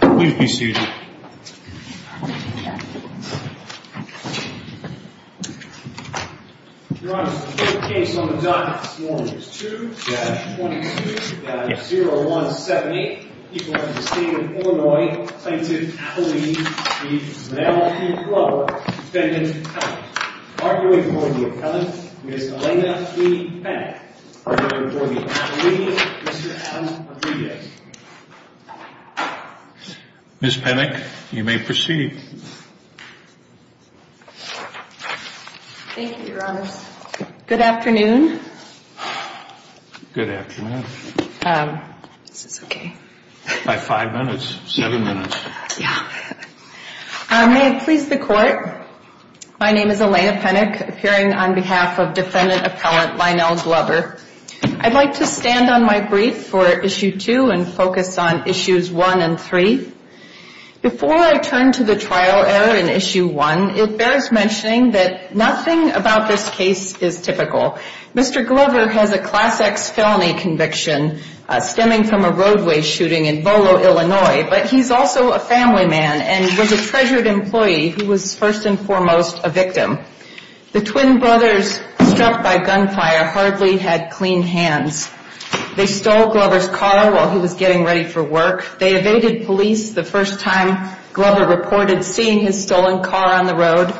Please be seated. Your Honor, the court case on the docket this morning is 2-22-0178. The people of the state of Illinois plaintiff believes the male v. Glover defendant, Kevin, arguing for the appellant, Ms. Elena E. Bennett, arguing for the appellant, Mr. Alan Padrige. Ms. Penick, you may proceed. Thank you, Your Honor. Good afternoon. Good afternoon. Is this okay? About five minutes, seven minutes. May it please the court, my name is Elena Penick, appearing on behalf of defendant appellant, Lionel Glover. I'd like to stand on my brief for Issue 2 and focus on Issues 1 and 3. Before I turn to the trial error in Issue 1, it bears mentioning that nothing about this case is typical. Mr. Glover has a Class X felony conviction stemming from a roadway shooting in Volo, Illinois, but he's also a family man and was a treasured employee who was first and foremost a victim. The twin brothers, struck by gunfire, hardly had clean hands. They stole Glover's car while he was getting ready for work. They evaded police the first time Glover reported seeing his stolen car on the road.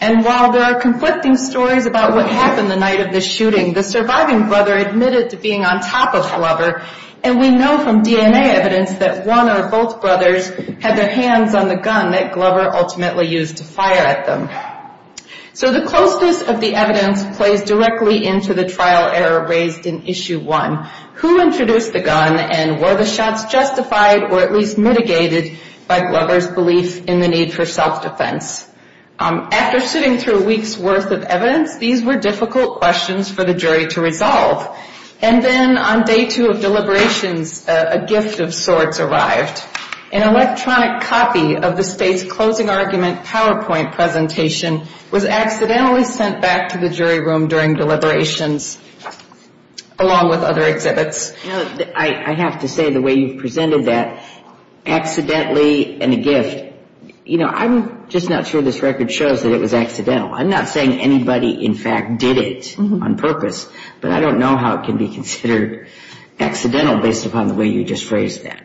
And while there are conflicting stories about what happened the night of the shooting, the surviving brother admitted to being on top of Glover, and we know from DNA evidence that one or both brothers had their hands on the gun that Glover ultimately used to fire at them. So the closeness of the evidence plays directly into the trial error raised in Issue 1. Who introduced the gun and were the shots justified or at least mitigated by Glover's belief in the need for self-defense? After sitting through a week's worth of evidence, these were difficult questions for the jury to resolve. And then on Day 2 of deliberations, a gift of sorts arrived. An electronic copy of the state's closing argument PowerPoint presentation was accidentally sent back to the jury room during deliberations along with other exhibits. I have to say the way you've presented that, accidentally and a gift, you know, I'm just not sure this record shows that it was accidental. I'm not saying anybody in fact did it on purpose, but I don't know how it can be considered accidental based upon the way you just phrased that.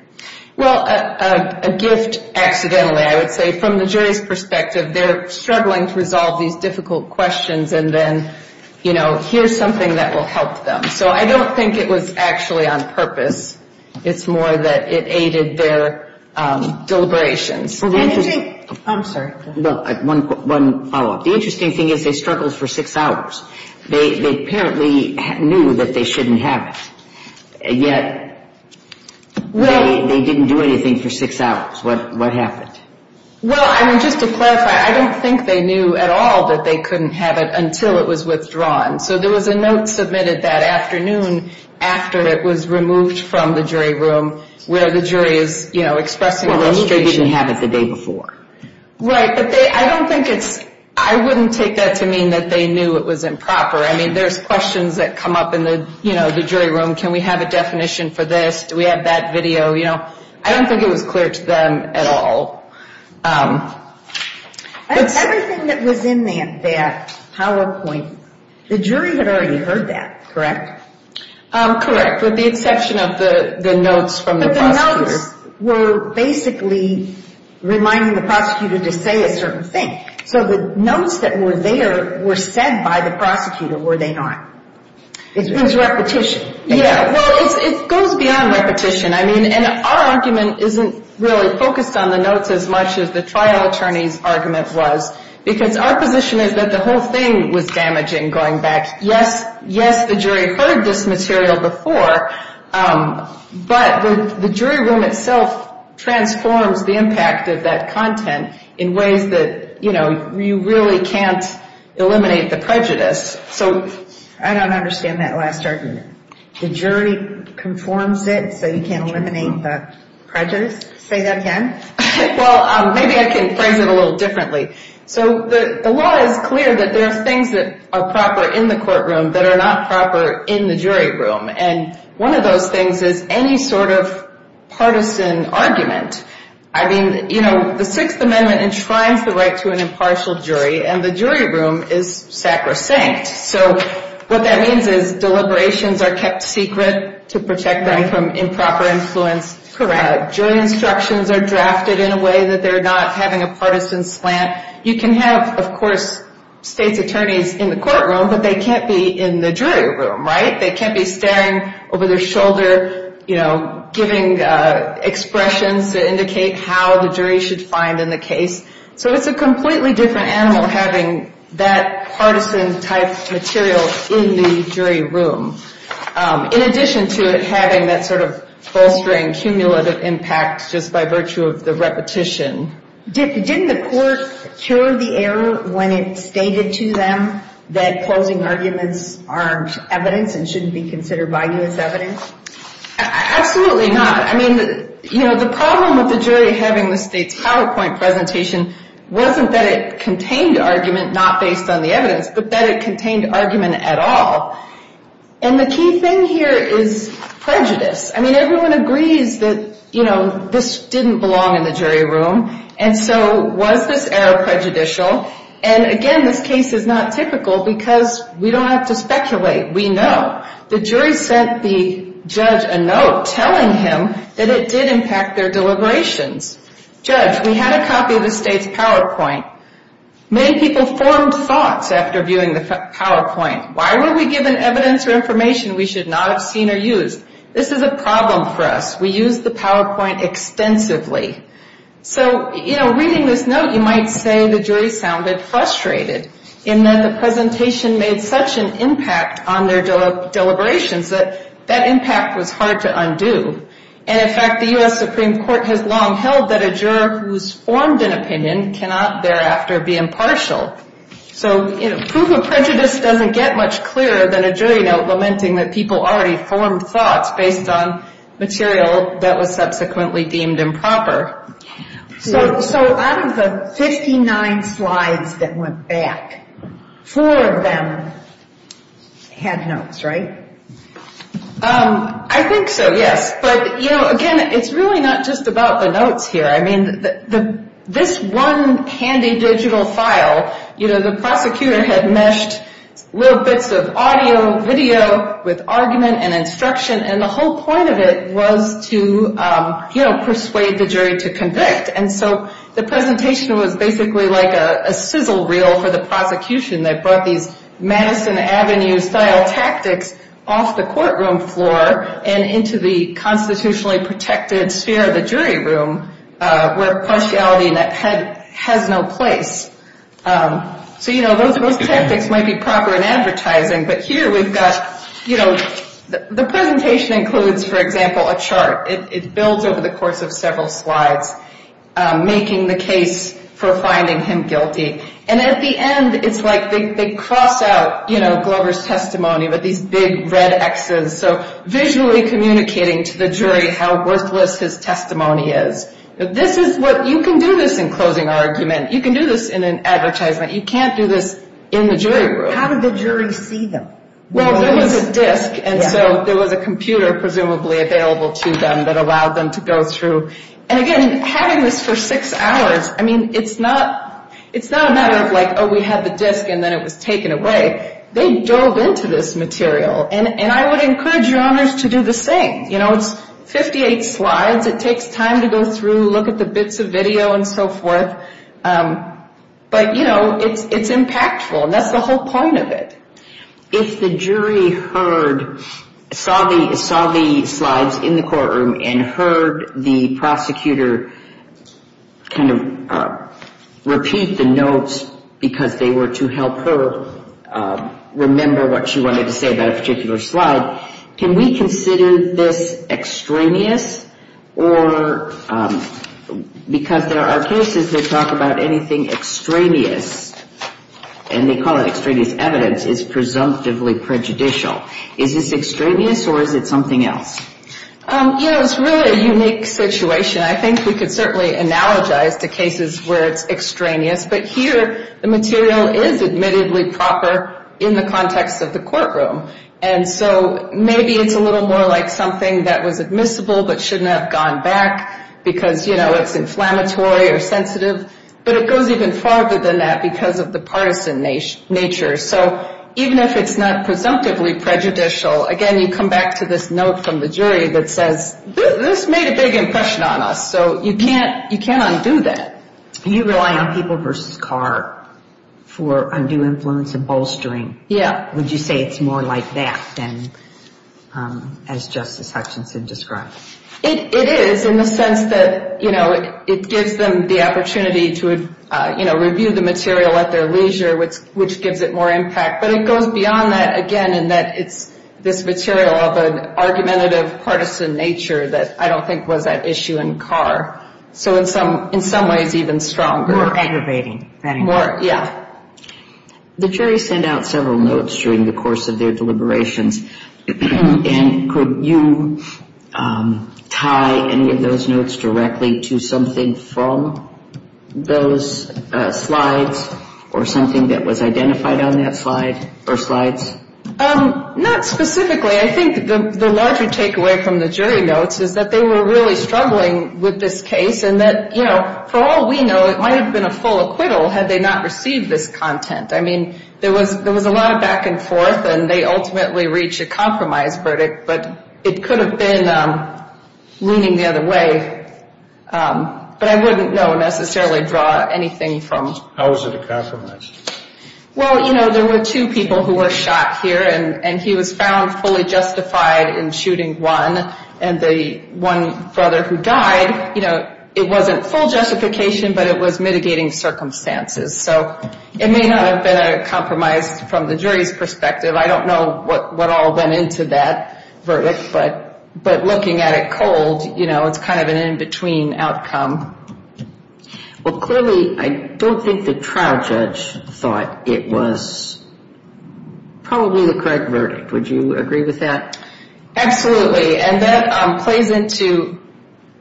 Well, a gift accidentally, I would say from the jury's perspective, they're struggling to resolve these difficult questions and then, you know, here's something that will help them. So I don't think it was actually on purpose. It's more that it aided their deliberations. I'm sorry. One follow-up. The interesting thing is they struggled for six hours. They apparently knew that they shouldn't have it, yet they didn't do anything for six hours. What happened? Well, I mean, just to clarify, I don't think they knew at all that they couldn't have it until it was withdrawn. So there was a note submitted that afternoon after it was removed from the jury room where the jury is, you know, and the jury didn't have it the day before. Right, but I don't think it's – I wouldn't take that to mean that they knew it was improper. I mean, there's questions that come up in the, you know, the jury room. Can we have a definition for this? Do we have that video? You know, I don't think it was clear to them at all. Everything that was in that PowerPoint, the jury had already heard that, correct? Correct, with the exception of the notes from the prosecutor. The notes were basically reminding the prosecutor to say a certain thing. So the notes that were there were said by the prosecutor, were they not? It was repetition. Yeah, well, it goes beyond repetition. I mean, and our argument isn't really focused on the notes as much as the trial attorney's argument was because our position is that the whole thing was damaging going back. Yes, the jury heard this material before, but the jury room itself transforms the impact of that content in ways that, you know, you really can't eliminate the prejudice. I don't understand that last argument. The jury conforms it so you can't eliminate the prejudice? Say that again? Well, maybe I can phrase it a little differently. So the law is clear that there are things that are proper in the courtroom that are not proper in the jury room, and one of those things is any sort of partisan argument. I mean, you know, the Sixth Amendment enshrines the right to an impartial jury, and the jury room is sacrosanct. So what that means is deliberations are kept secret to protect them from improper influence. Correct. Jury instructions are drafted in a way that they're not having a partisan slant. You can have, of course, state's attorneys in the courtroom, but they can't be in the jury room, right? They can't be staring over their shoulder, you know, giving expressions to indicate how the jury should find in the case. So it's a completely different animal having that partisan-type material in the jury room, in addition to it having that sort of bolstering cumulative impact just by virtue of the repetition. Didn't the court cure the error when it stated to them that closing arguments aren't evidence and shouldn't be considered by you as evidence? Absolutely not. I mean, you know, the problem with the jury having the state's PowerPoint presentation wasn't that it contained argument not based on the evidence, but that it contained argument at all. And the key thing here is prejudice. I mean, everyone agrees that, you know, this didn't belong in the jury room. And so was this error prejudicial? And again, this case is not typical because we don't have to speculate. We know. The jury sent the judge a note telling him that it did impact their deliberations. Judge, we had a copy of the state's PowerPoint. Many people formed thoughts after viewing the PowerPoint. Why were we given evidence or information we should not have seen or used? This is a problem for us. We used the PowerPoint extensively. So, you know, reading this note, you might say the jury sounded frustrated in that the presentation made such an impact on their deliberations that that impact was hard to undo. And, in fact, the U.S. Supreme Court has long held that a juror who's formed an opinion cannot thereafter be impartial. So, you know, proof of prejudice doesn't get much clearer than a jury note lamenting that people already formed thoughts based on material that was subsequently deemed improper. So out of the 59 slides that went back, four of them had notes, right? I think so, yes. But, you know, again, it's really not just about the notes here. I mean, this one handy digital file, you know, the prosecutor had meshed little bits of audio, video with argument and instruction, and the whole point of it was to, you know, persuade the jury to convict. And so the presentation was basically like a sizzle reel for the prosecution. They brought these Madison Avenue style tactics off the courtroom floor and into the constitutionally protected sphere of the jury room where impartiality has no place. So, you know, those tactics might be proper in advertising, but here we've got, you know, the presentation includes, for example, a chart. It builds over the course of several slides, making the case for finding him guilty. And at the end, it's like they cross out, you know, Glover's testimony with these big red X's. So visually communicating to the jury how worthless his testimony is. This is what, you can do this in closing argument. You can do this in an advertisement. You can't do this in the jury room. How did the jury see them? Well, there was a disc, and so there was a computer presumably available to them that allowed them to go through. And again, having this for six hours, I mean, it's not a matter of like, oh, we had the disc and then it was taken away. They dove into this material, and I would encourage your honors to do the same. You know, it's 58 slides. It takes time to go through, look at the bits of video and so forth. But, you know, it's impactful, and that's the whole point of it. If the jury heard, saw the slides in the courtroom and heard the prosecutor kind of repeat the notes because they were to help her remember what she wanted to say about a particular slide, can we consider this extraneous or, because there are cases that talk about anything extraneous, and they call it extraneous evidence, is presumptively prejudicial. Is this extraneous or is it something else? You know, it's really a unique situation. I think we could certainly analogize to cases where it's extraneous, but here the material is admittedly proper in the context of the courtroom. And so maybe it's a little more like something that was admissible but shouldn't have gone back because, you know, it's inflammatory or sensitive. But it goes even farther than that because of the partisan nature. So even if it's not presumptively prejudicial, again, you come back to this note from the jury that says, this made a big impression on us, so you can't undo that. You rely on people versus car for undue influence and bolstering. Yeah. Would you say it's more like that than as Justice Hutchinson described? It is in the sense that, you know, it gives them the opportunity to, you know, review the material at their leisure, which gives it more impact. But it goes beyond that, again, in that it's this material of an argumentative, partisan nature that I don't think was at issue in car. So in some ways even stronger. More aggravating. More, yeah. The jury sent out several notes during the course of their deliberations. And could you tie any of those notes directly to something from those slides or something that was identified on that slide or slides? Not specifically. I think the larger takeaway from the jury notes is that they were really struggling with this case and that, you know, for all we know, it might have been a full acquittal had they not received this content. I mean, there was a lot of back and forth, and they ultimately reached a compromise verdict. But it could have been leaning the other way. But I wouldn't necessarily draw anything from it. How was it a compromise? Well, you know, there were two people who were shot here, and he was found fully justified in shooting one. And the one brother who died, you know, it wasn't full justification, but it was mitigating circumstances. So it may not have been a compromise from the jury's perspective. I don't know what all went into that verdict. But looking at it cold, you know, it's kind of an in-between outcome. Well, clearly I don't think the trial judge thought it was probably the correct verdict. Would you agree with that? Absolutely. And that plays into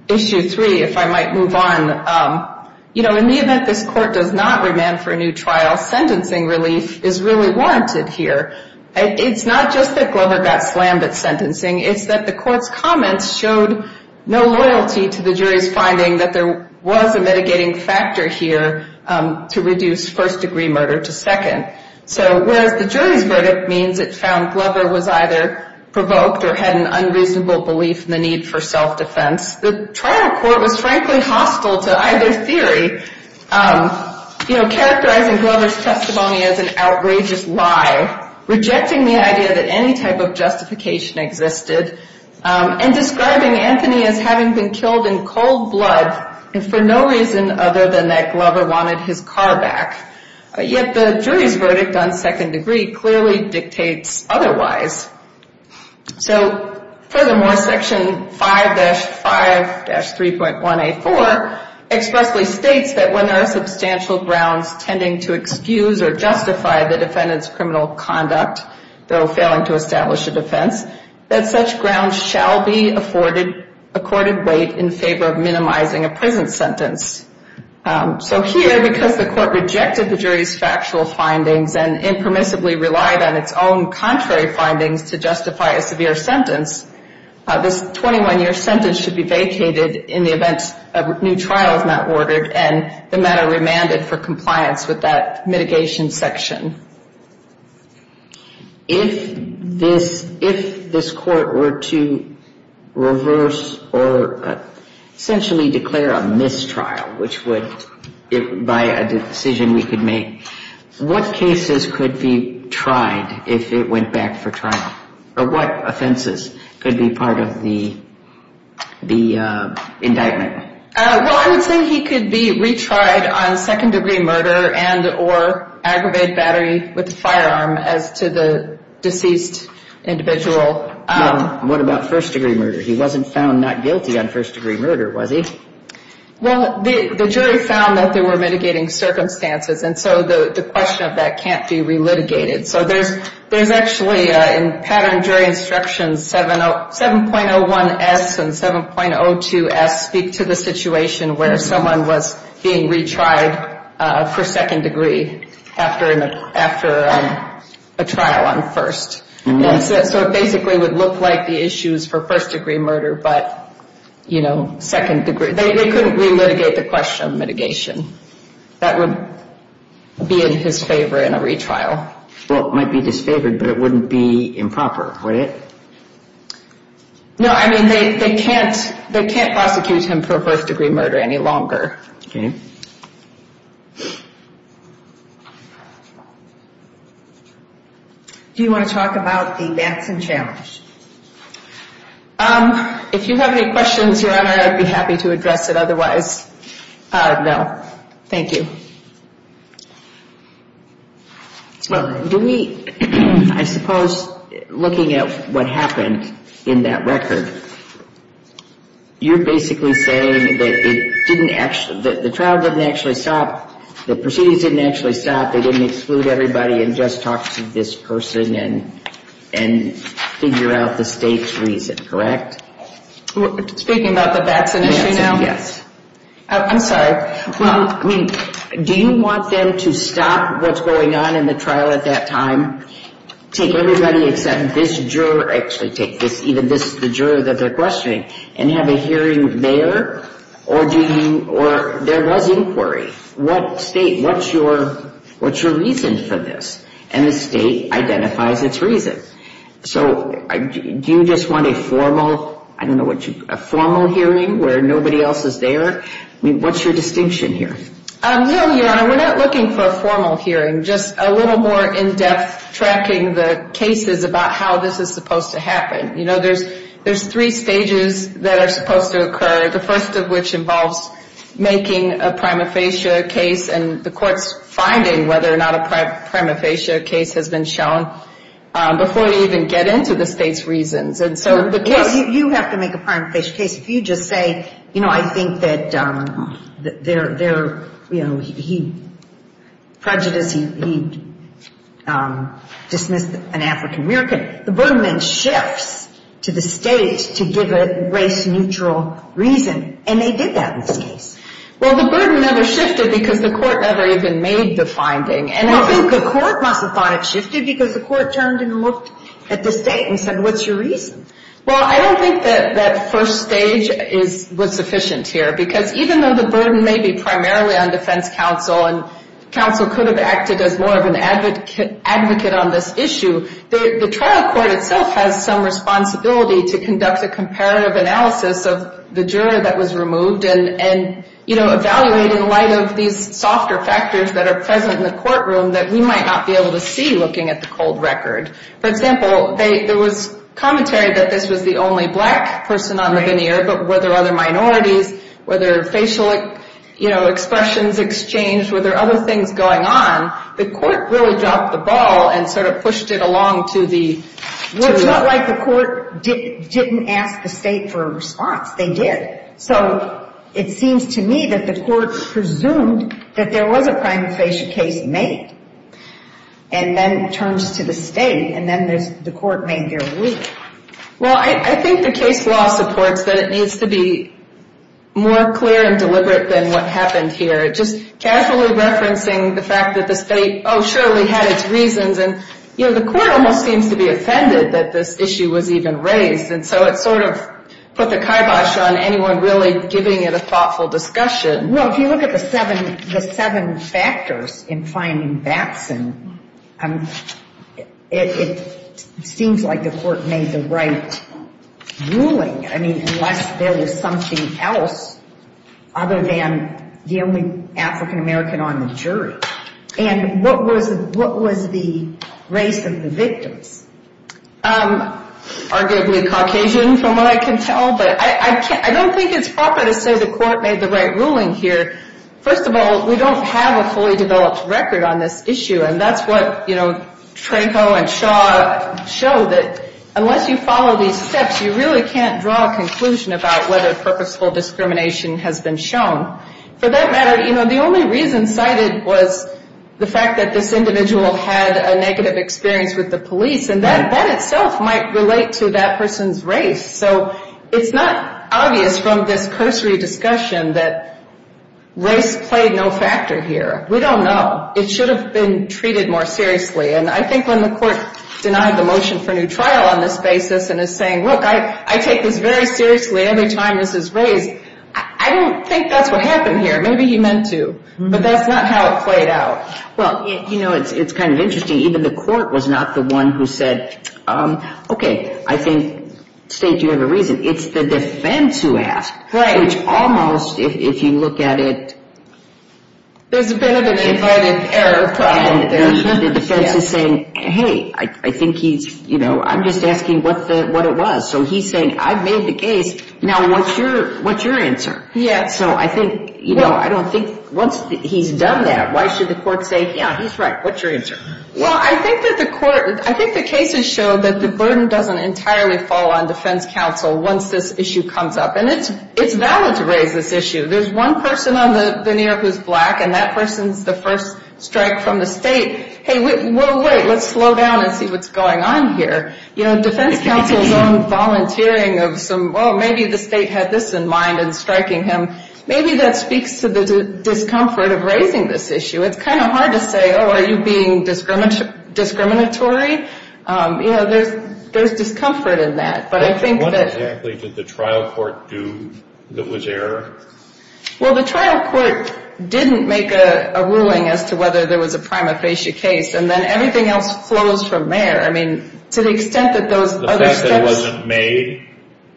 Issue 3, if I might move on. You know, in the event this court does not remand for a new trial, sentencing relief is really warranted here. It's not just that Glover got slammed at sentencing, it's that the court's comments showed no loyalty to the jury's finding that there was a mitigating factor here to reduce first-degree murder to second. So whereas the jury's verdict means it found Glover was either provoked or had an unreasonable belief in the need for self-defense, the trial court was frankly hostile to either theory, you know, characterizing Glover's testimony as an outrageous lie, rejecting the idea that any type of justification existed, and describing Anthony as having been killed in cold blood and for no reason other than that Glover wanted his car back. Yet the jury's verdict on second degree clearly dictates otherwise. So furthermore, Section 5-5-3.184 expressly states that when there are substantial grounds tending to excuse or justify the defendant's criminal conduct, though failing to establish a defense, that such grounds shall be afforded accorded weight in favor of minimizing a prison sentence. So here, because the court rejected the jury's factual findings and impermissibly relied on its own contrary findings to justify a severe sentence, this 21-year sentence should be vacated in the event a new trial is not ordered and the matter remanded for compliance with that mitigation section. If this court were to reverse or essentially declare a mistrial, which would, by a decision we could make, what cases could be tried if it went back for trial? Or what offenses could be part of the indictment? Well, I would say he could be retried on second degree murder and or aggravated battery with a firearm as to the deceased individual. What about first degree murder? He wasn't found not guilty on first degree murder, was he? Well, the jury found that they were mitigating circumstances and so the question of that can't be relitigated. So there's actually in pattern jury instructions 7.01S and 7.02S speak to the situation where someone was being retried for second degree after a trial on first. So it basically would look like the issues for first degree murder but, you know, second degree. They couldn't relitigate the question of mitigation. That would be in his favor in a retrial. Well, it might be disfavored but it wouldn't be improper, would it? No, I mean they can't prosecute him for first degree murder any longer. Okay. Do you want to talk about the Manson Challenge? If you have any questions, Your Honor, I'd be happy to address it otherwise. No, thank you. Do we, I suppose, looking at what happened in that record, you're basically saying that the trial didn't actually stop, the proceedings didn't actually stop, they didn't exclude everybody and just talk to this person and figure out the state's reason, correct? Speaking about the vaccine issue now? Yes. I'm sorry. Well, I mean, do you want them to stop what's going on in the trial at that time? Take everybody except this juror, actually take this, even this, the juror that they're questioning and have a hearing there or do you, or there was inquiry. What state, what's your reason for this? And the state identifies its reason. So do you just want a formal, I don't know what you, a formal hearing where nobody else is there? I mean, what's your distinction here? No, Your Honor, we're not looking for a formal hearing, just a little more in-depth tracking the cases about how this is supposed to happen. You know, there's three stages that are supposed to occur, the first of which involves making a prima facie case and the court's finding whether or not a prima facie case has been shown before you even get into the state's reasons. You have to make a prima facie case. If you just say, you know, I think that they're, you know, he, prejudice, he dismissed an African-American, the burden then shifts to the state to give a race-neutral reason, and they did that in this case. Well, the burden never shifted because the court never even made the finding. Well, I think the court must have thought it shifted because the court turned and looked at the state and said, what's your reason? Well, I don't think that that first stage is, was sufficient here because even though the burden may be primarily on defense counsel and counsel could have acted as more of an advocate on this issue, the trial court itself has some responsibility to conduct a comparative analysis of the juror that was removed and, you know, evaluate in light of these softer factors that are present in the courtroom that we might not be able to see looking at the cold record. For example, there was commentary that this was the only black person on the veneer, but were there other minorities? Were there facial, you know, expressions exchanged? Were there other things going on? The court really dropped the ball and sort of pushed it along to the... So it seems to me that the court presumed that there was a prime facial case made and then turned to the state and then the court made their ruling. Well, I think the case law supports that it needs to be more clear and deliberate than what happened here. Just casually referencing the fact that the state, oh, surely had its reasons and, you know, the court almost seems to be offended that this issue was even raised and so it sort of put the kibosh on anyone really giving it a thoughtful discussion. Well, if you look at the seven factors in finding Batson, it seems like the court made the right ruling. I mean, unless there was something else other than the only African American on the jury. And what was the race of the victims? Arguably Caucasian from what I can tell, but I don't think it's proper to say the court made the right ruling here. First of all, we don't have a fully developed record on this issue and that's what, you know, Tranco and Shaw show that unless you follow these steps, you really can't draw a conclusion about whether purposeful discrimination has been shown. For that matter, you know, the only reason cited was the fact that this individual had a negative experience with the police and that in itself might relate to that person's race. So it's not obvious from this cursory discussion that race played no factor here. We don't know. It should have been treated more seriously. And I think when the court denied the motion for new trial on this basis and is saying, look, I take this very seriously every time this is raised, I don't think that's what happened here. Maybe he meant to, but that's not how it played out. Well, you know, it's kind of interesting. Even the court was not the one who said, okay, I think, state, you have a reason. It's the defense who asked, which almost, if you look at it, there's a bit of an invited error problem there. The defense is saying, hey, I think he's, you know, I'm just asking what it was. So he's saying, I've made the case, now what's your answer? So I think, you know, I don't think once he's done that, why should the court say, yeah, he's right, what's your answer? Well, I think that the court, I think the cases show that the burden doesn't entirely fall on defense counsel once this issue comes up. And it's valid to raise this issue. There's one person on the veneer who's black, and that person's the first strike from the state. Hey, whoa, wait, let's slow down and see what's going on here. You know, defense counsel's own volunteering of some, well, maybe the state had this in mind in striking him. Maybe that speaks to the discomfort of raising this issue. It's kind of hard to say, oh, are you being discriminatory? You know, there's discomfort in that. But I think that – What exactly did the trial court do that was error? Well, the trial court didn't make a ruling as to whether there was a prima facie case. And then everything else flows from there. I mean, to the extent that those other steps –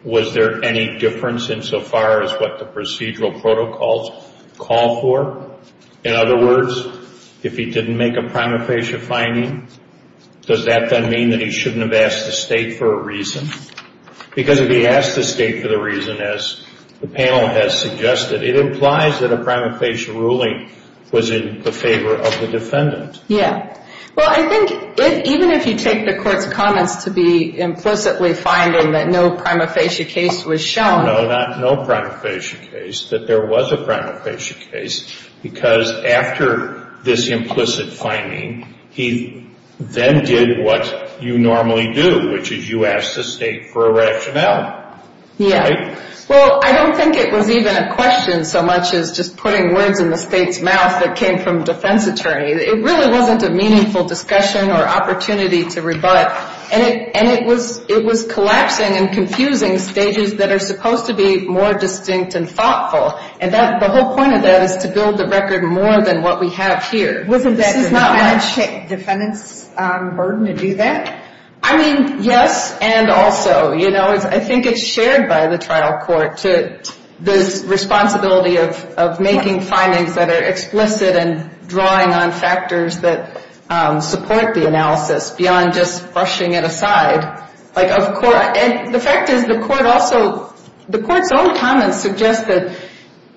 was there any difference insofar as what the procedural protocols call for? In other words, if he didn't make a prima facie finding, does that then mean that he shouldn't have asked the state for a reason? Because if he asked the state for the reason, as the panel has suggested, it implies that a prima facie ruling was in the favor of the defendant. Yeah. Well, I think even if you take the court's comments to be implicitly finding that no prima facie case was shown – No, not no prima facie case, that there was a prima facie case. Because after this implicit finding, he then did what you normally do, which is you ask the state for a rationale. Yeah. Right? Well, I don't think it was even a question so much as just putting words in the state's mouth that came from a defense attorney. It really wasn't a meaningful discussion or opportunity to rebut. And it was collapsing and confusing stages that are supposed to be more distinct and thoughtful. And the whole point of that is to build the record more than what we have here. Wasn't that the defense's burden to do that? I mean, yes, and also, you know, I think it's shared by the trial court to this responsibility of making findings that are explicit and drawing on factors that support the analysis beyond just brushing it aside. Like, of course, and the fact is the court also – the court's own comments suggest that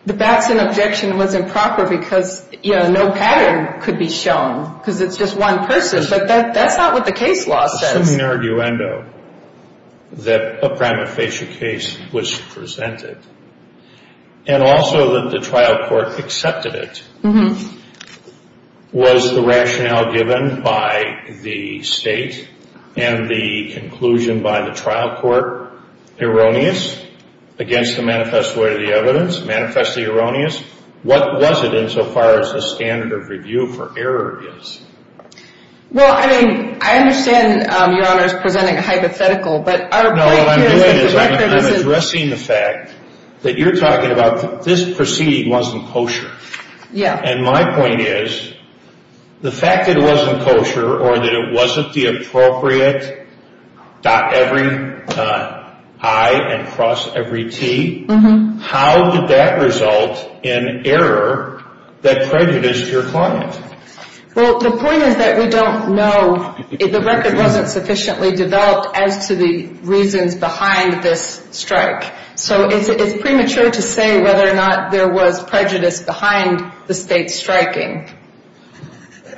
the Batson objection was improper because, you know, no pattern could be shown because it's just one person. But that's not what the case law says. Assuming an arguendo that a prima facie case was presented and also that the trial court accepted it, was the rationale given by the state and the conclusion by the trial court erroneous against the manifest way of the evidence, manifestly erroneous? What was it insofar as the standard of review for error is? Well, I mean, I understand Your Honor is presenting a hypothetical, but our point here is that the record isn't – that you're talking about this proceeding wasn't kosher. Yeah. And my point is the fact that it wasn't kosher or that it wasn't the appropriate dot every I and cross every T, how did that result in error that prejudiced your client? Well, the point is that we don't know – the record wasn't sufficiently developed as to the reasons behind this strike. So it's premature to say whether or not there was prejudice behind the state striking.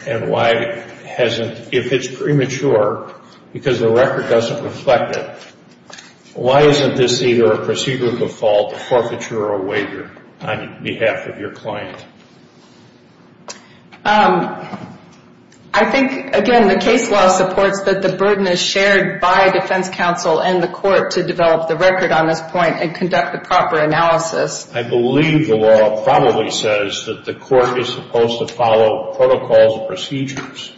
And why hasn't – if it's premature because the record doesn't reflect it, why isn't this either a procedural default, forfeiture, or waiver on behalf of your client? I think, again, the case law supports that the burden is shared by defense counsel and the court to develop the record on this point and conduct the proper analysis. I believe the law probably says that the court is supposed to follow protocols and procedures.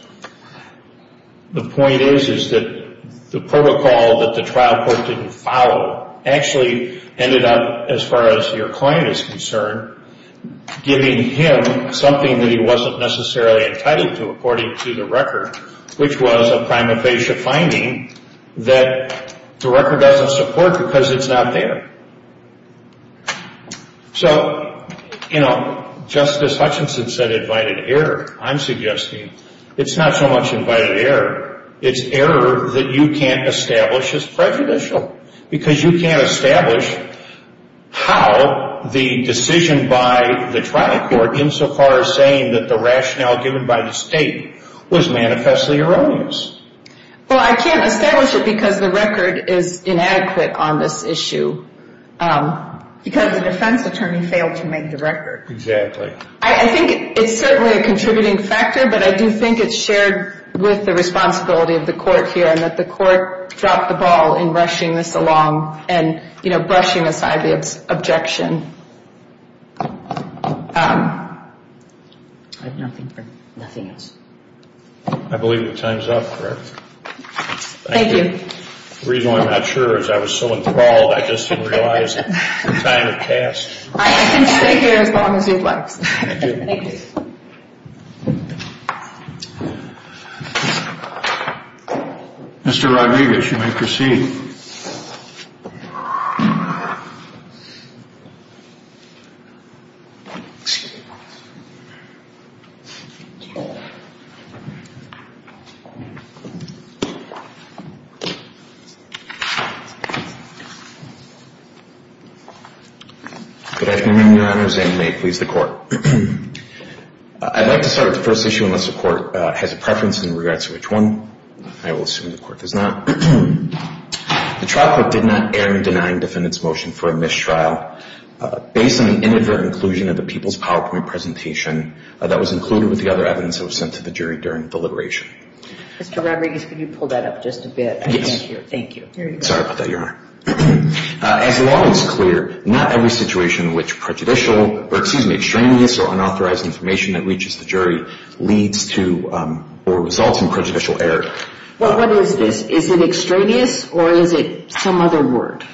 The point is, is that the protocol that the trial court didn't follow actually ended up, as far as your client is concerned, giving him something that he wasn't necessarily entitled to, according to the record, which was a prima facie finding that the record doesn't support because it's not there. So, you know, Justice Hutchinson said invited error. I'm suggesting it's not so much invited error, it's error that you can't establish as prejudicial because you can't establish how the decision by the trial court, insofar as saying that the rationale given by the state, was manifestly erroneous. Well, I can't establish it because the record is inadequate on this issue. Because the defense attorney failed to make the record. Exactly. I think it's certainly a contributing factor, but I do think it's shared with the responsibility of the court here and that the court dropped the ball in rushing this along and, you know, brushing aside the objection. I have nothing else. I believe the time is up, correct? Thank you. The reason why I'm not sure is I was so enthralled, I just didn't realize the time had passed. I can stay here as long as you'd like. Thank you. Thank you. Mr. Rodriguez, you may proceed. Good afternoon, Your Honors, and may it please the Court. I'd like to start with the first issue unless the Court has a preference in regards to which one. I will assume the Court does not. The trial court did not err in denying defendant's motion for a mistrial, based on an inadvertent inclusion of the People's PowerPoint presentation that was included with the other evidence that was sent to the jury during deliberation. Mr. Rodriguez, could you pull that up just a bit? Yes. Thank you. Sorry about that, Your Honor. As the law is clear, not every situation in which prejudicial, or excuse me, or unauthorized information that reaches the jury leads to or results in prejudicial error. What is this? Is it extraneous or is it some other word?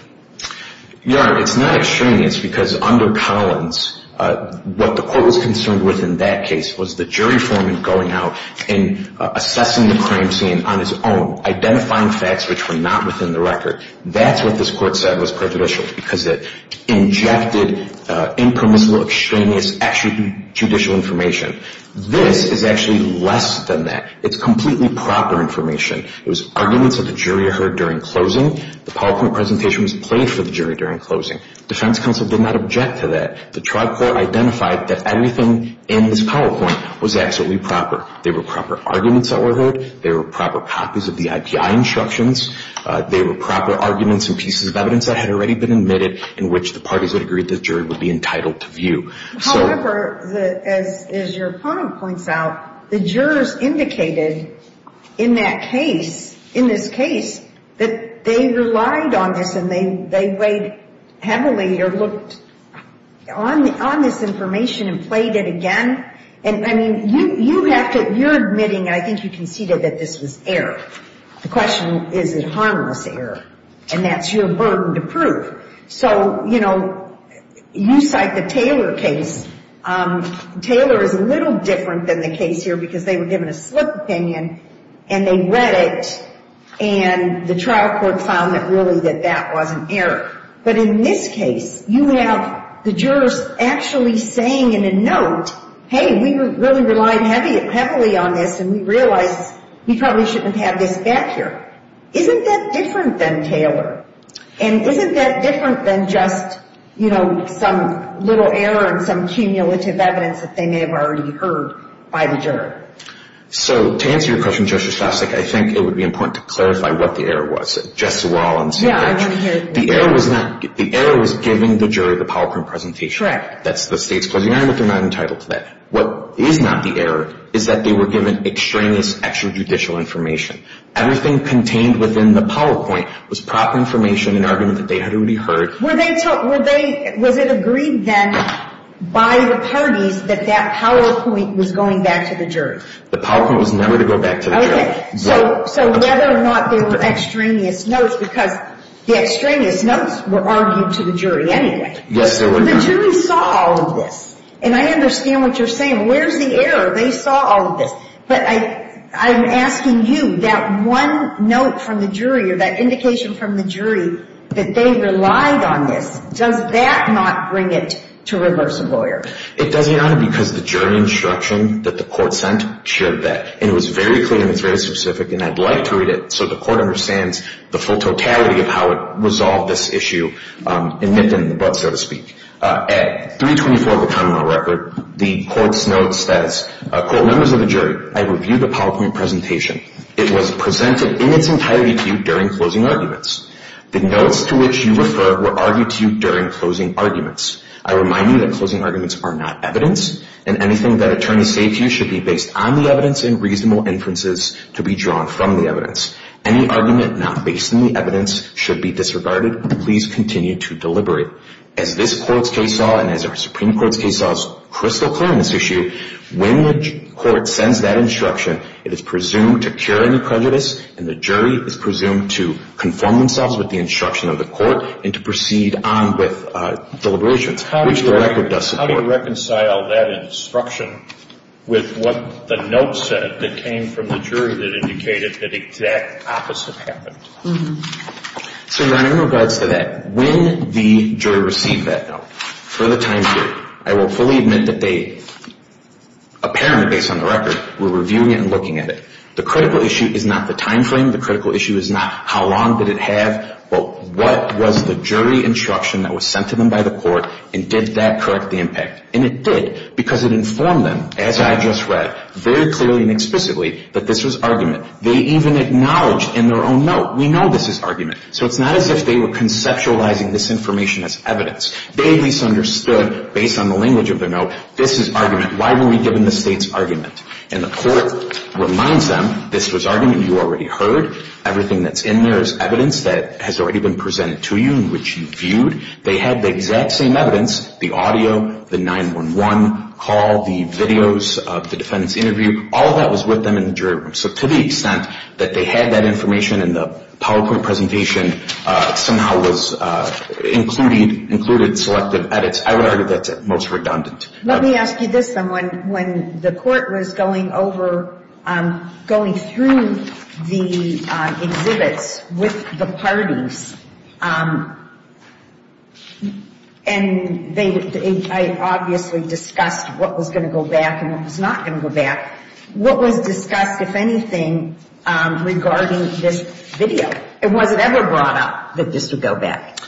Your Honor, it's not extraneous because under Collins, what the Court was concerned with in that case was the jury foreman going out and assessing the crime scene on his own, identifying facts which were not within the record. That's what this Court said was prejudicial because it injected impermissible, extraneous, extrajudicial information. This is actually less than that. It's completely proper information. It was arguments that the jury heard during closing. The PowerPoint presentation was played for the jury during closing. Defense counsel did not object to that. The trial court identified that everything in this PowerPoint was absolutely proper. There were proper arguments that were heard. There were proper copies of the IPI instructions. There were proper arguments and pieces of evidence that had already been admitted in which the parties would agree the jury would be entitled to view. However, as your opponent points out, the jurors indicated in that case, in this case, that they relied on this and they weighed heavily or looked on this information and played it again. And, I mean, you have to, you're admitting, I think you conceded, that this was error. The question, is it harmless error? And that's your burden to prove. So, you know, you cite the Taylor case. Taylor is a little different than the case here because they were given a slip opinion and they read it and the trial court found that really that that was an error. But in this case, you have the jurors actually saying in a note, hey, we really relied heavily on this and we realized we probably shouldn't have this back here. Isn't that different than Taylor? And isn't that different than just, you know, some little error and some cumulative evidence that they may have already heard by the juror? So, to answer your question, Justice Shostakovich, I think it would be important to clarify what the error was. Justice Wall on the same page. Yeah, I want to hear it more. The error was not, the error was giving the jury the power of presentation. Correct. That's the state's closing argument. They're not entitled to that. What is not the error is that they were given extraneous extrajudicial information. Everything contained within the PowerPoint was proper information, an argument that they had already heard. Were they, was it agreed then by the parties that that PowerPoint was going back to the jury? The PowerPoint was never to go back to the jury. Okay. So, whether or not they were extraneous notes, because the extraneous notes were argued to the jury anyway. Yes, they were. The jury saw all of this, and I understand what you're saying. Where's the error? They saw all of this. But I'm asking you, that one note from the jury, or that indication from the jury, that they relied on this, does that not bring it to reverse a lawyer? It does, Your Honor, because the jury instruction that the court sent shared that. And it was very clear, and it's very specific, and I'd like to read it so the court understands the full totality of how it resolved this issue, and nipped in the bud, so to speak. At 324 of the common law record, the court's notes says, quote, Members of the jury, I review the PowerPoint presentation. It was presented in its entirety to you during closing arguments. The notes to which you refer were argued to you during closing arguments. I remind you that closing arguments are not evidence, and anything that attorneys say to you should be based on the evidence and reasonable inferences to be drawn from the evidence. Any argument not based on the evidence should be disregarded. Please continue to deliberate. As this court's case law and as our Supreme Court's case law is crystal clear on this issue, when the court sends that instruction, it is presumed to cure any prejudice, and the jury is presumed to conform themselves with the instruction of the court and to proceed on with deliberations, which the record does support. How do you reconcile that instruction with what the note said that came from the jury that indicated that the exact opposite happened? So, Your Honor, in regards to that, when the jury received that note for the time period, I will fully admit that they apparently, based on the record, were reviewing it and looking at it. The critical issue is not the time frame. The critical issue is not how long did it have, but what was the jury instruction that was sent to them by the court, and did that correct the impact? And it did, because it informed them, as I just read, very clearly and explicitly, that this was argument. They even acknowledged in their own note, we know this is argument. So it's not as if they were conceptualizing this information as evidence. They misunderstood, based on the language of their note, this is argument. Why were we given the state's argument? And the court reminds them, this was argument you already heard. Everything that's in there is evidence that has already been presented to you and which you've viewed. They had the exact same evidence, the audio, the 911 call, the videos of the defendant's interview. All of that was with them in the jury room. So to the extent that they had that information in the PowerPoint presentation, it somehow was included in selective edits. I would argue that's most redundant. Let me ask you this then. When the court was going over, going through the exhibits with the parties, and they obviously discussed what was going to go back and what was not going to go back, what was discussed, if anything, regarding this video? And was it ever brought up that this would go back?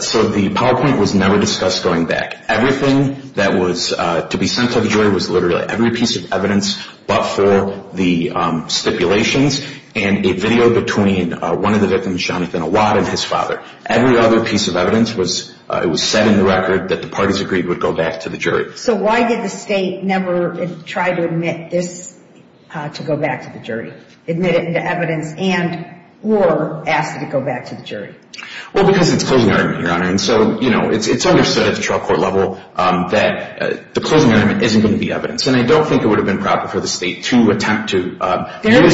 So the PowerPoint was never discussed going back. Everything that was to be sent to the jury was literally every piece of evidence but for the stipulations, and a video between one of the victims, Jonathan Awad, and his father. Every other piece of evidence was set in the record that the parties agreed would go back to the jury. So why did the state never try to admit this to go back to the jury, admit it into evidence and or ask it to go back to the jury? Well, because it's closing argument, Your Honor. And so, you know, it's understood at the trial court level that the closing argument isn't going to be evidence. And I don't think it would have been proper for the state to attempt to use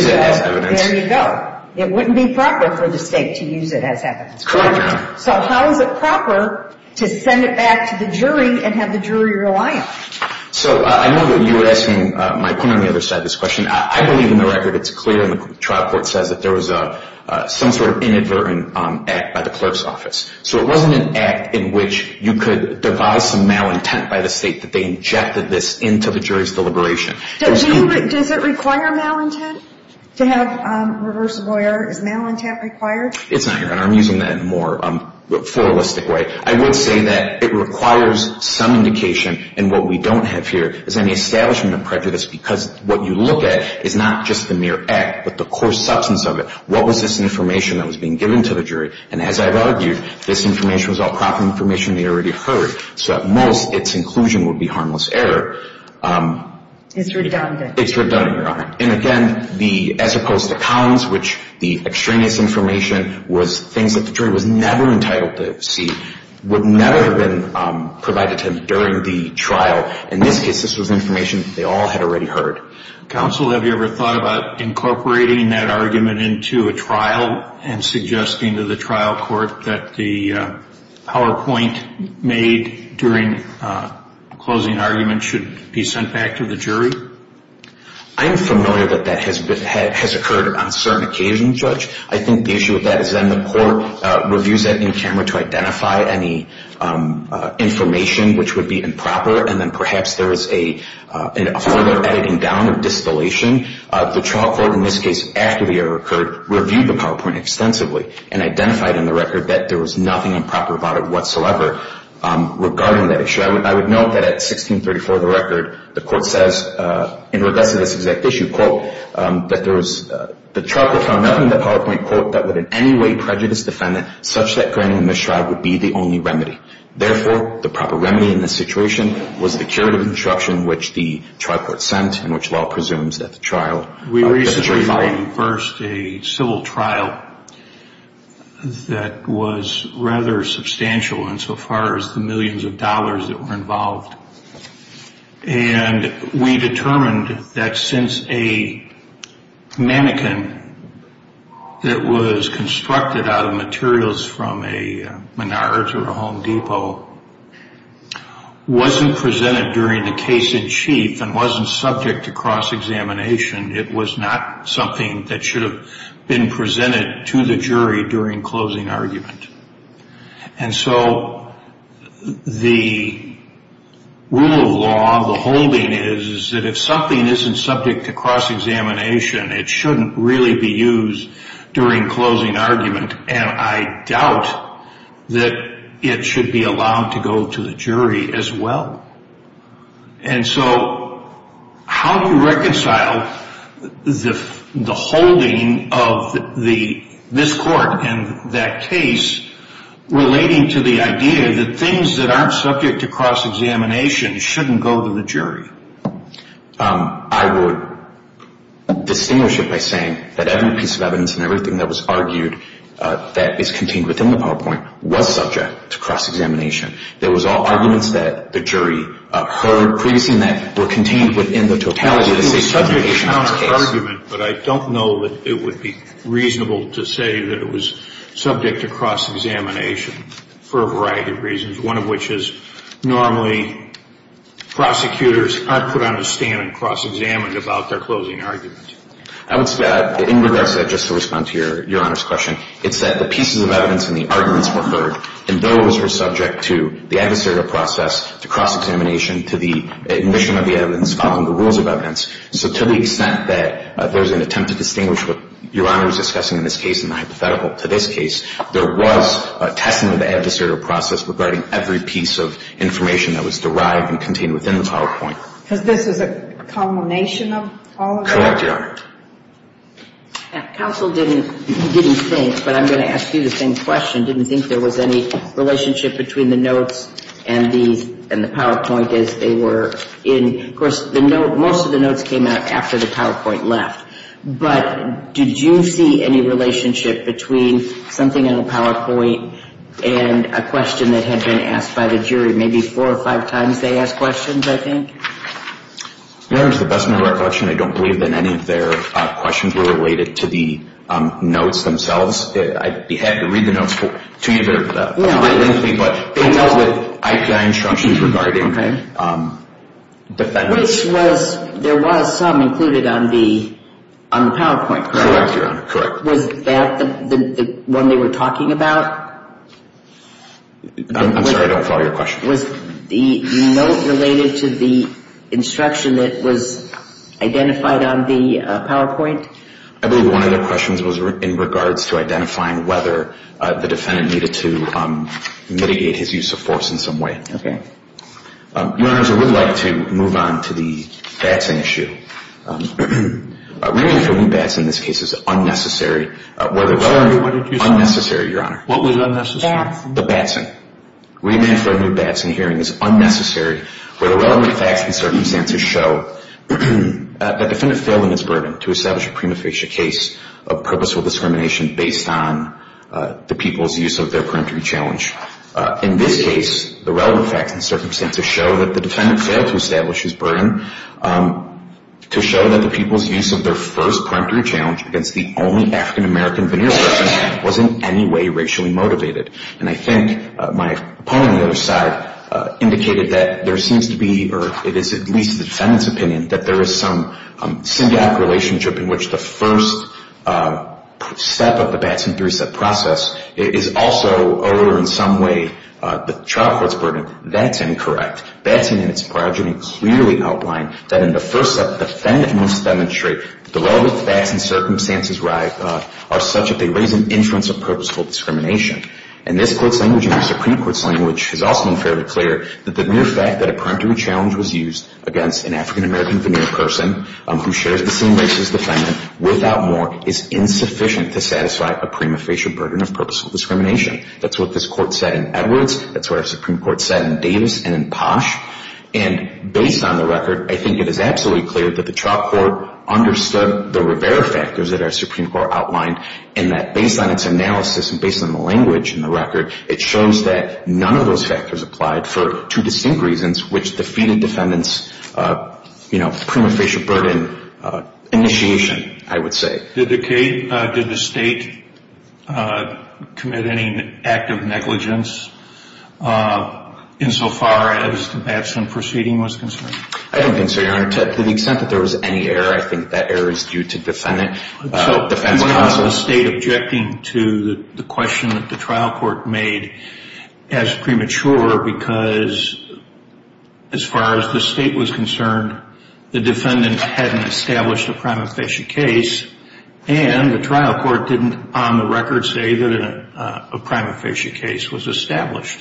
it as evidence. There you go. It wouldn't be proper for the state to use it as evidence. Correct, Your Honor. So how is it proper to send it back to the jury and have the jury rely on it? So I know that you were asking my point on the other side of this question. I believe in the record it's clear in the trial court says that there was some sort of inadvertent act by the clerk's office. So it wasn't an act in which you could devise some malintent by the state that they injected this into the jury's deliberation. Does it require malintent to have a reverse lawyer? Is malintent required? It's not, Your Honor. I'm using that in a more pluralistic way. I would say that it requires some indication. And what we don't have here is any establishment of prejudice because what you look at is not just the mere act but the core substance of it. What was this information that was being given to the jury? And as I've argued, this information was all proper information they'd already heard. So at most, its inclusion would be harmless error. It's redundant. It's redundant, Your Honor. And again, as opposed to cons, which the extraneous information was things that the jury was never entitled to see, would never have been provided to them during the trial. In this case, this was information that they all had already heard. Counsel, have you ever thought about incorporating that argument into a trial and suggesting to the trial court that the PowerPoint made during closing argument should be sent back to the jury? I am familiar that that has occurred on certain occasions, Judge. I think the issue with that is then the court reviews that in camera to identify any information which would be improper, and then perhaps there is a further editing down of distillation. The trial court, in this case, after the error occurred, reviewed the PowerPoint extensively and identified in the record that there was nothing improper about it whatsoever regarding that issue. I would note that at 1634 of the record, the court says in regress to this exact issue, quote, that the trial court found nothing in the PowerPoint, quote, that would in any way prejudice the defendant such that granting the mistride would be the only remedy. Therefore, the proper remedy in this situation was the curative instruction which the trial court sent and which law presumes that the trial. We recently filed first a civil trial that was rather substantial insofar as the millions of dollars that were involved. And we determined that since a mannequin that was constructed out of materials from a Menards or a Home Depot wasn't presented during the case in chief and wasn't subject to cross-examination, it was not something that should have been presented to the jury during closing argument. And so the rule of law, the holding is that if something isn't subject to cross-examination, it shouldn't really be used during closing argument. And I doubt that it should be allowed to go to the jury as well. And so how do you reconcile the holding of this court and that case relating to the idea that things that aren't subject to cross-examination shouldn't go to the jury? I would distinguish it by saying that every piece of evidence and everything that was argued that is contained within the PowerPoint was subject to cross-examination. There was all arguments that the jury heard previously that were contained within the totality of the case. But I don't know that it would be reasonable to say that it was subject to cross-examination for a variety of reasons, one of which is normally prosecutors aren't put on a stand and cross-examined about their closing argument. I would say that in regards to that, just to respond to Your Honor's question, it's that the pieces of evidence and the arguments were heard. And those were subject to the adversarial process, to cross-examination, to the admission of the evidence following the rules of evidence. So to the extent that there's an attempt to distinguish what Your Honor is discussing in this case and the hypothetical to this case, there was a testing of the adversarial process regarding every piece of information that was derived and contained within the PowerPoint. Because this is a culmination of all of that? Correct, Your Honor. Counsel didn't think, but I'm going to ask you the same question, didn't think there was any relationship between the notes and the PowerPoint as they were in. Of course, most of the notes came out after the PowerPoint left. But did you see any relationship between something in the PowerPoint and a question that had been asked by the jury? Your Honor, to the best of my recollection, I don't believe that any of their questions were related to the notes themselves. I'd be happy to read the notes to you, but they dealt with IPI instructions regarding defendants. Which was, there was some included on the PowerPoint, correct? Correct, Your Honor, correct. Was that the one they were talking about? I'm sorry, I don't follow your question. Was the note related to the instruction that was identified on the PowerPoint? I believe one of their questions was in regards to identifying whether the defendant needed to mitigate his use of force in some way. Okay. Your Honors, I would like to move on to the Batson issue. Remand for a new Batson in this case is unnecessary. Sorry, what did you say? Unnecessary, Your Honor. What was unnecessary? The Batson. Remand for a new Batson hearing is unnecessary where the relevant facts and circumstances show that the defendant failed in his burden to establish a prima facie case of purposeful discrimination based on the people's use of their peremptory challenge. In this case, the relevant facts and circumstances show that the defendant failed to establish his burden to show that the people's use of their first peremptory challenge against the only African-American veneer person was in any way racially motivated. And I think my opponent on the other side indicated that there seems to be or it is at least the defendant's opinion that there is some symbiotic relationship in which the first step of the Batson three-step process is also or in some way the trial court's burden. That's incorrect. Batson in its prerogative clearly outlined that in the first step, the defendant must demonstrate that the relevant facts and circumstances are such that they raise an inference of purposeful discrimination. And this court's language and the Supreme Court's language has also been fairly clear that the mere fact that a peremptory challenge was used against an African-American veneer person who shares the same race as the defendant without more is insufficient to satisfy a prima facie burden of purposeful discrimination. That's what this court said in Edwards. That's what our Supreme Court said in Davis and in Posh. And based on the record, I think it is absolutely clear that the trial court understood the Rivera factors that our Supreme Court outlined and that based on its analysis and based on the language in the record, it shows that none of those factors applied for two distinct reasons which defeated defendant's prima facie burden initiation, I would say. Did the state commit any act of negligence insofar as the Batson proceeding was concerned? I don't think so, Your Honor. To the extent that there was any error, I think that error is due to defense counsel. So you want the state objecting to the question that the trial court made as premature because as far as the state was concerned, the defendant hadn't established a prima facie case and the trial court didn't on the record say that a prima facie case was established.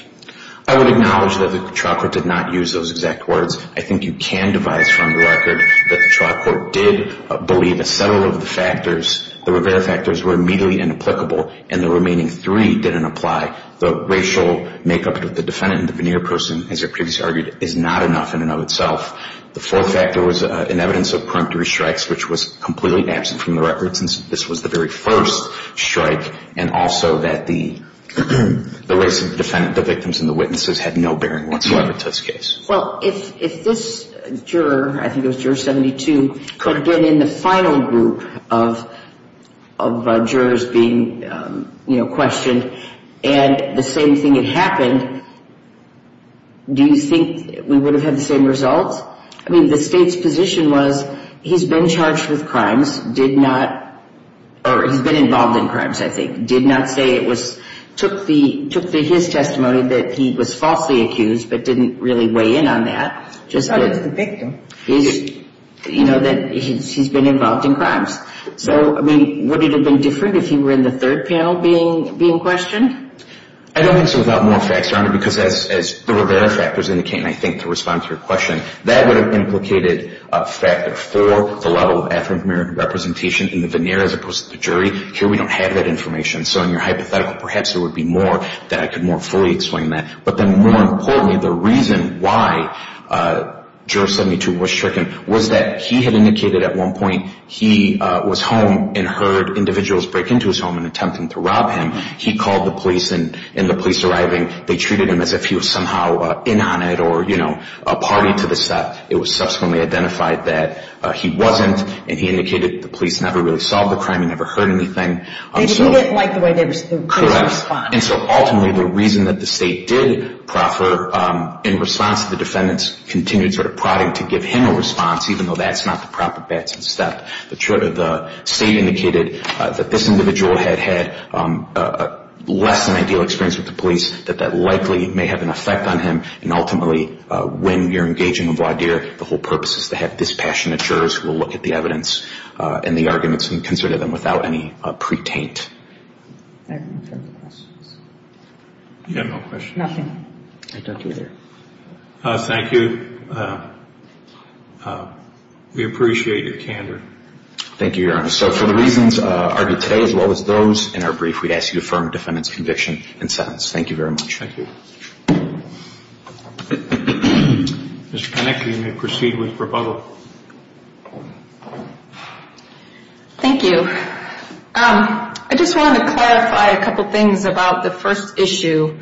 I would acknowledge that the trial court did not use those exact words. I think you can devise from the record that the trial court did believe that several of the factors, the Rivera factors, were immediately inapplicable and the remaining three didn't apply. The racial makeup of the defendant and the veneer person, as I previously argued, is not enough in and of itself. The fourth factor was an evidence of preemptory strikes, which was completely absent from the record since this was the very first strike, and also that the race of the defendant, the victims, and the witnesses had no bearing whatsoever to this case. Well, if this juror, I think it was Juror 72, could get in the final group of jurors being, you know, questioned and the same thing had happened, do you think we would have had the same results? I mean, the state's position was he's been charged with crimes, did not, or he's been involved in crimes, I think, did not say it was, took his testimony that he was falsely accused but didn't really weigh in on that. I thought it was the victim. You know, that he's been involved in crimes. So, I mean, would it have been different if he were in the third panel being questioned? I don't think so without more facts, Your Honor, because as the Rivera factors indicate, and I think to respond to your question, that would have implicated a factor for the level of African-American representation in the veneer as opposed to the jury. Here we don't have that information. So in your hypothetical, perhaps there would be more that I could more fully explain that. But then more importantly, the reason why Juror 72 was stricken was that he had indicated at one point he was home and heard individuals break into his home and attempting to rob him. He called the police, and the police arriving, they treated him as if he was somehow in on it or, you know, a party to the set. It was subsequently identified that he wasn't, and he indicated the police never really saw the crime, he never heard anything. They didn't like the way they were responding. Correct. And so ultimately the reason that the State did proffer in response to the defendants continued sort of prodding to give him a response, even though that's not the proper batson step. The State indicated that this individual had had less than ideal experience with the police, that that likely may have an effect on him, and ultimately when you're engaging a voir dire, the whole purpose is to have dispassionate jurors who will look at the evidence and the arguments and consider them without any pre-taint. I have no further questions. You have no questions? Nothing. I don't either. Thank you. We appreciate your candor. Thank you, Your Honor. So for the reasons argued today as well as those in our brief, we'd ask you to affirm the defendant's conviction and sentence. Thank you very much. Thank you. Mr. Panek, you may proceed with rebuttal. Thank you. I just wanted to clarify a couple things about the first issue.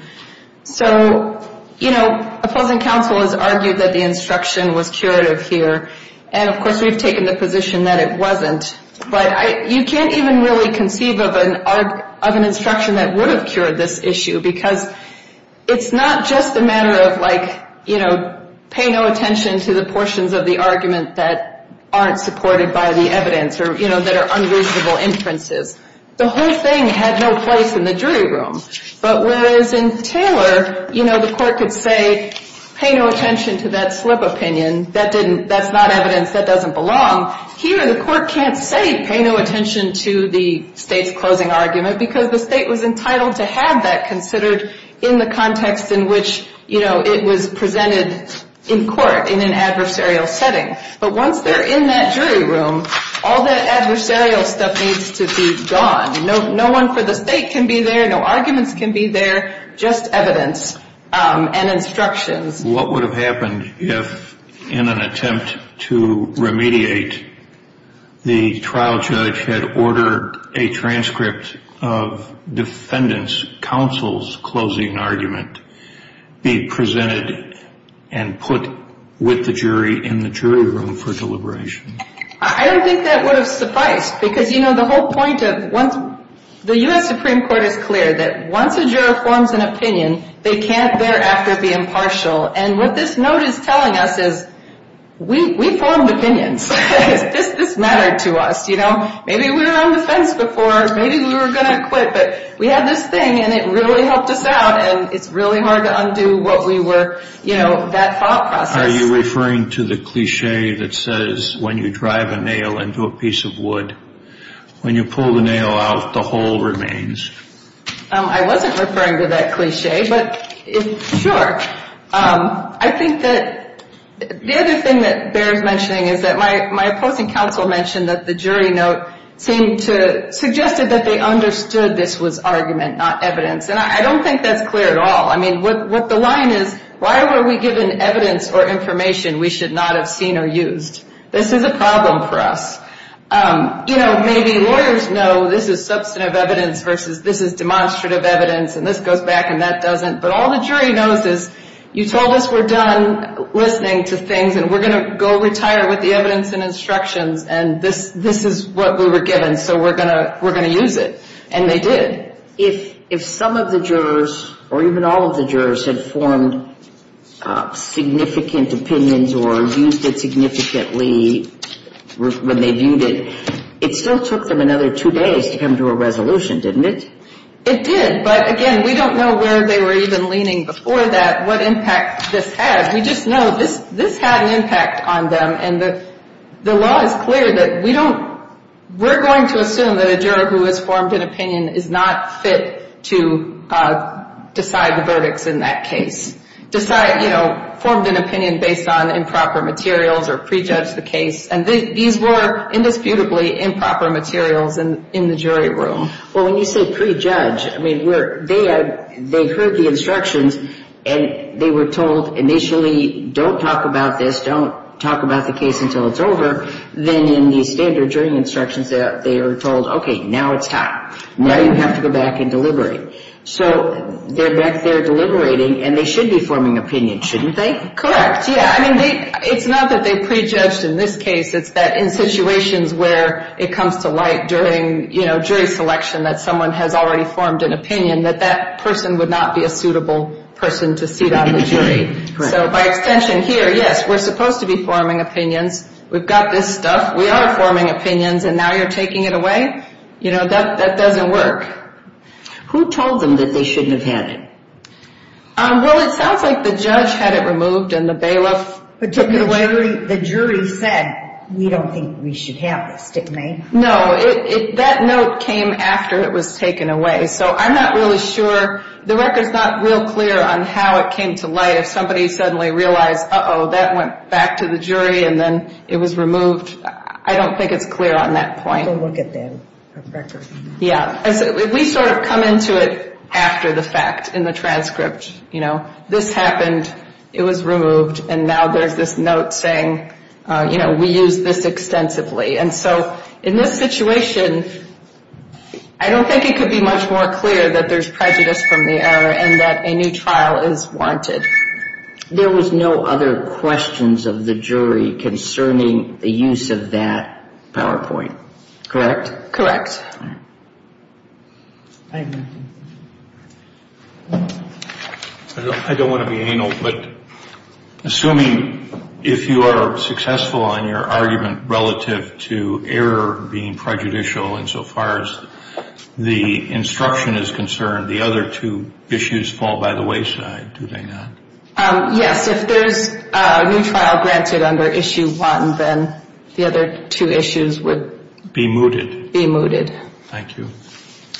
So, you know, opposing counsel has argued that the instruction was curative here, and of course we've taken the position that it wasn't. But you can't even really conceive of an instruction that would have cured this issue because it's not just a matter of like, you know, pay no attention to the portions of the argument that aren't supported by the evidence or, you know, that are unreasonable inferences. The whole thing had no place in the jury room. But whereas in Taylor, you know, the court could say pay no attention to that slip opinion, that's not evidence, that doesn't belong, here the court can't say pay no attention to the state's closing argument because the state was entitled to have that considered in the context in which, you know, it was presented in court in an adversarial setting. But once they're in that jury room, all the adversarial stuff needs to be gone. No one for the state can be there, no arguments can be there, just evidence and instructions. What would have happened if, in an attempt to remediate, the trial judge had ordered a transcript of defendant's counsel's closing argument be presented and put with the jury in the jury room for deliberation? I don't think that would have sufficed because, you know, the whole point of once the U.S. Supreme Court is clear that once a juror forms an opinion, they can't thereafter be impartial. And what this note is telling us is we formed opinions. This mattered to us, you know. Maybe we were on the fence before, maybe we were going to quit, but we had this thing and it really helped us out and it's really hard to undo what we were, you know, that thought process. Are you referring to the cliché that says when you drive a nail into a piece of wood, when you pull the nail out, the hole remains? I wasn't referring to that cliché, but sure. I think that the other thing that bears mentioning is that my opposing counsel mentioned that the jury note suggested that they understood this was argument, not evidence. And I don't think that's clear at all. I mean, what the line is, why were we given evidence or information we should not have seen or used? This is a problem for us. You know, maybe lawyers know this is substantive evidence versus this is demonstrative evidence and this goes back and that doesn't, but all the jury knows is you told us we're done listening to things and we're going to go retire with the evidence and instructions and this is what we were given so we're going to use it. And they did. If some of the jurors or even all of the jurors had formed significant opinions or used it significantly when they viewed it, it still took them another two days to come to a resolution, didn't it? It did, but again, we don't know where they were even leaning before that, what impact this had. We just know this had an impact on them and the law is clear that we don't, we're going to assume that a juror who has formed an opinion is not fit to decide the verdicts in that case. Decide, you know, formed an opinion based on improper materials or prejudge the case and these were indisputably improper materials in the jury room. Well, when you say prejudge, I mean, they heard the instructions and they were told initially don't talk about this, don't talk about the case until it's over, then in the standard jury instructions they were told, okay, now it's time. Now you have to go back and deliberate. So they're back there deliberating and they should be forming opinions, shouldn't they? Correct, yeah. I mean, it's not that they prejudged in this case, it's that in situations where it comes to light during, you know, jury selection that someone has already formed an opinion that that person would not be a suitable person to seat on the jury. So by extension here, yes, we're supposed to be forming opinions. We've got this stuff. We are forming opinions and now you're taking it away? You know, that doesn't work. Who told them that they shouldn't have had it? Well, it sounds like the judge had it removed and the bailiff took it away. The jury said, we don't think we should have this, didn't they? No, that note came after it was taken away. So I'm not really sure. The record's not real clear on how it came to light. If somebody suddenly realized, uh-oh, that went back to the jury and then it was removed, I don't think it's clear on that point. Go look at that record. Yeah. We sort of come into it after the fact in the transcript, you know. This happened, it was removed, and now there's this note saying, you know, we used this extensively. And so in this situation, I don't think it could be much more clear that there's prejudice from the error and that a new trial is wanted. There was no other questions of the jury concerning the use of that PowerPoint, correct? Correct. Thank you. I don't want to be anal, but assuming if you are successful in your argument relative to error being prejudicial insofar as the instruction is concerned, the other two issues fall by the wayside, do they not? Yes. If there's a new trial granted under Issue 1, then the other two issues would be mooted. Be mooted. Thank you.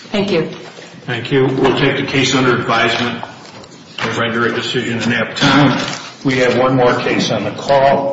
Thank you. Thank you. We'll take the case under advisement and render a decision in that time. We have one more case on the call.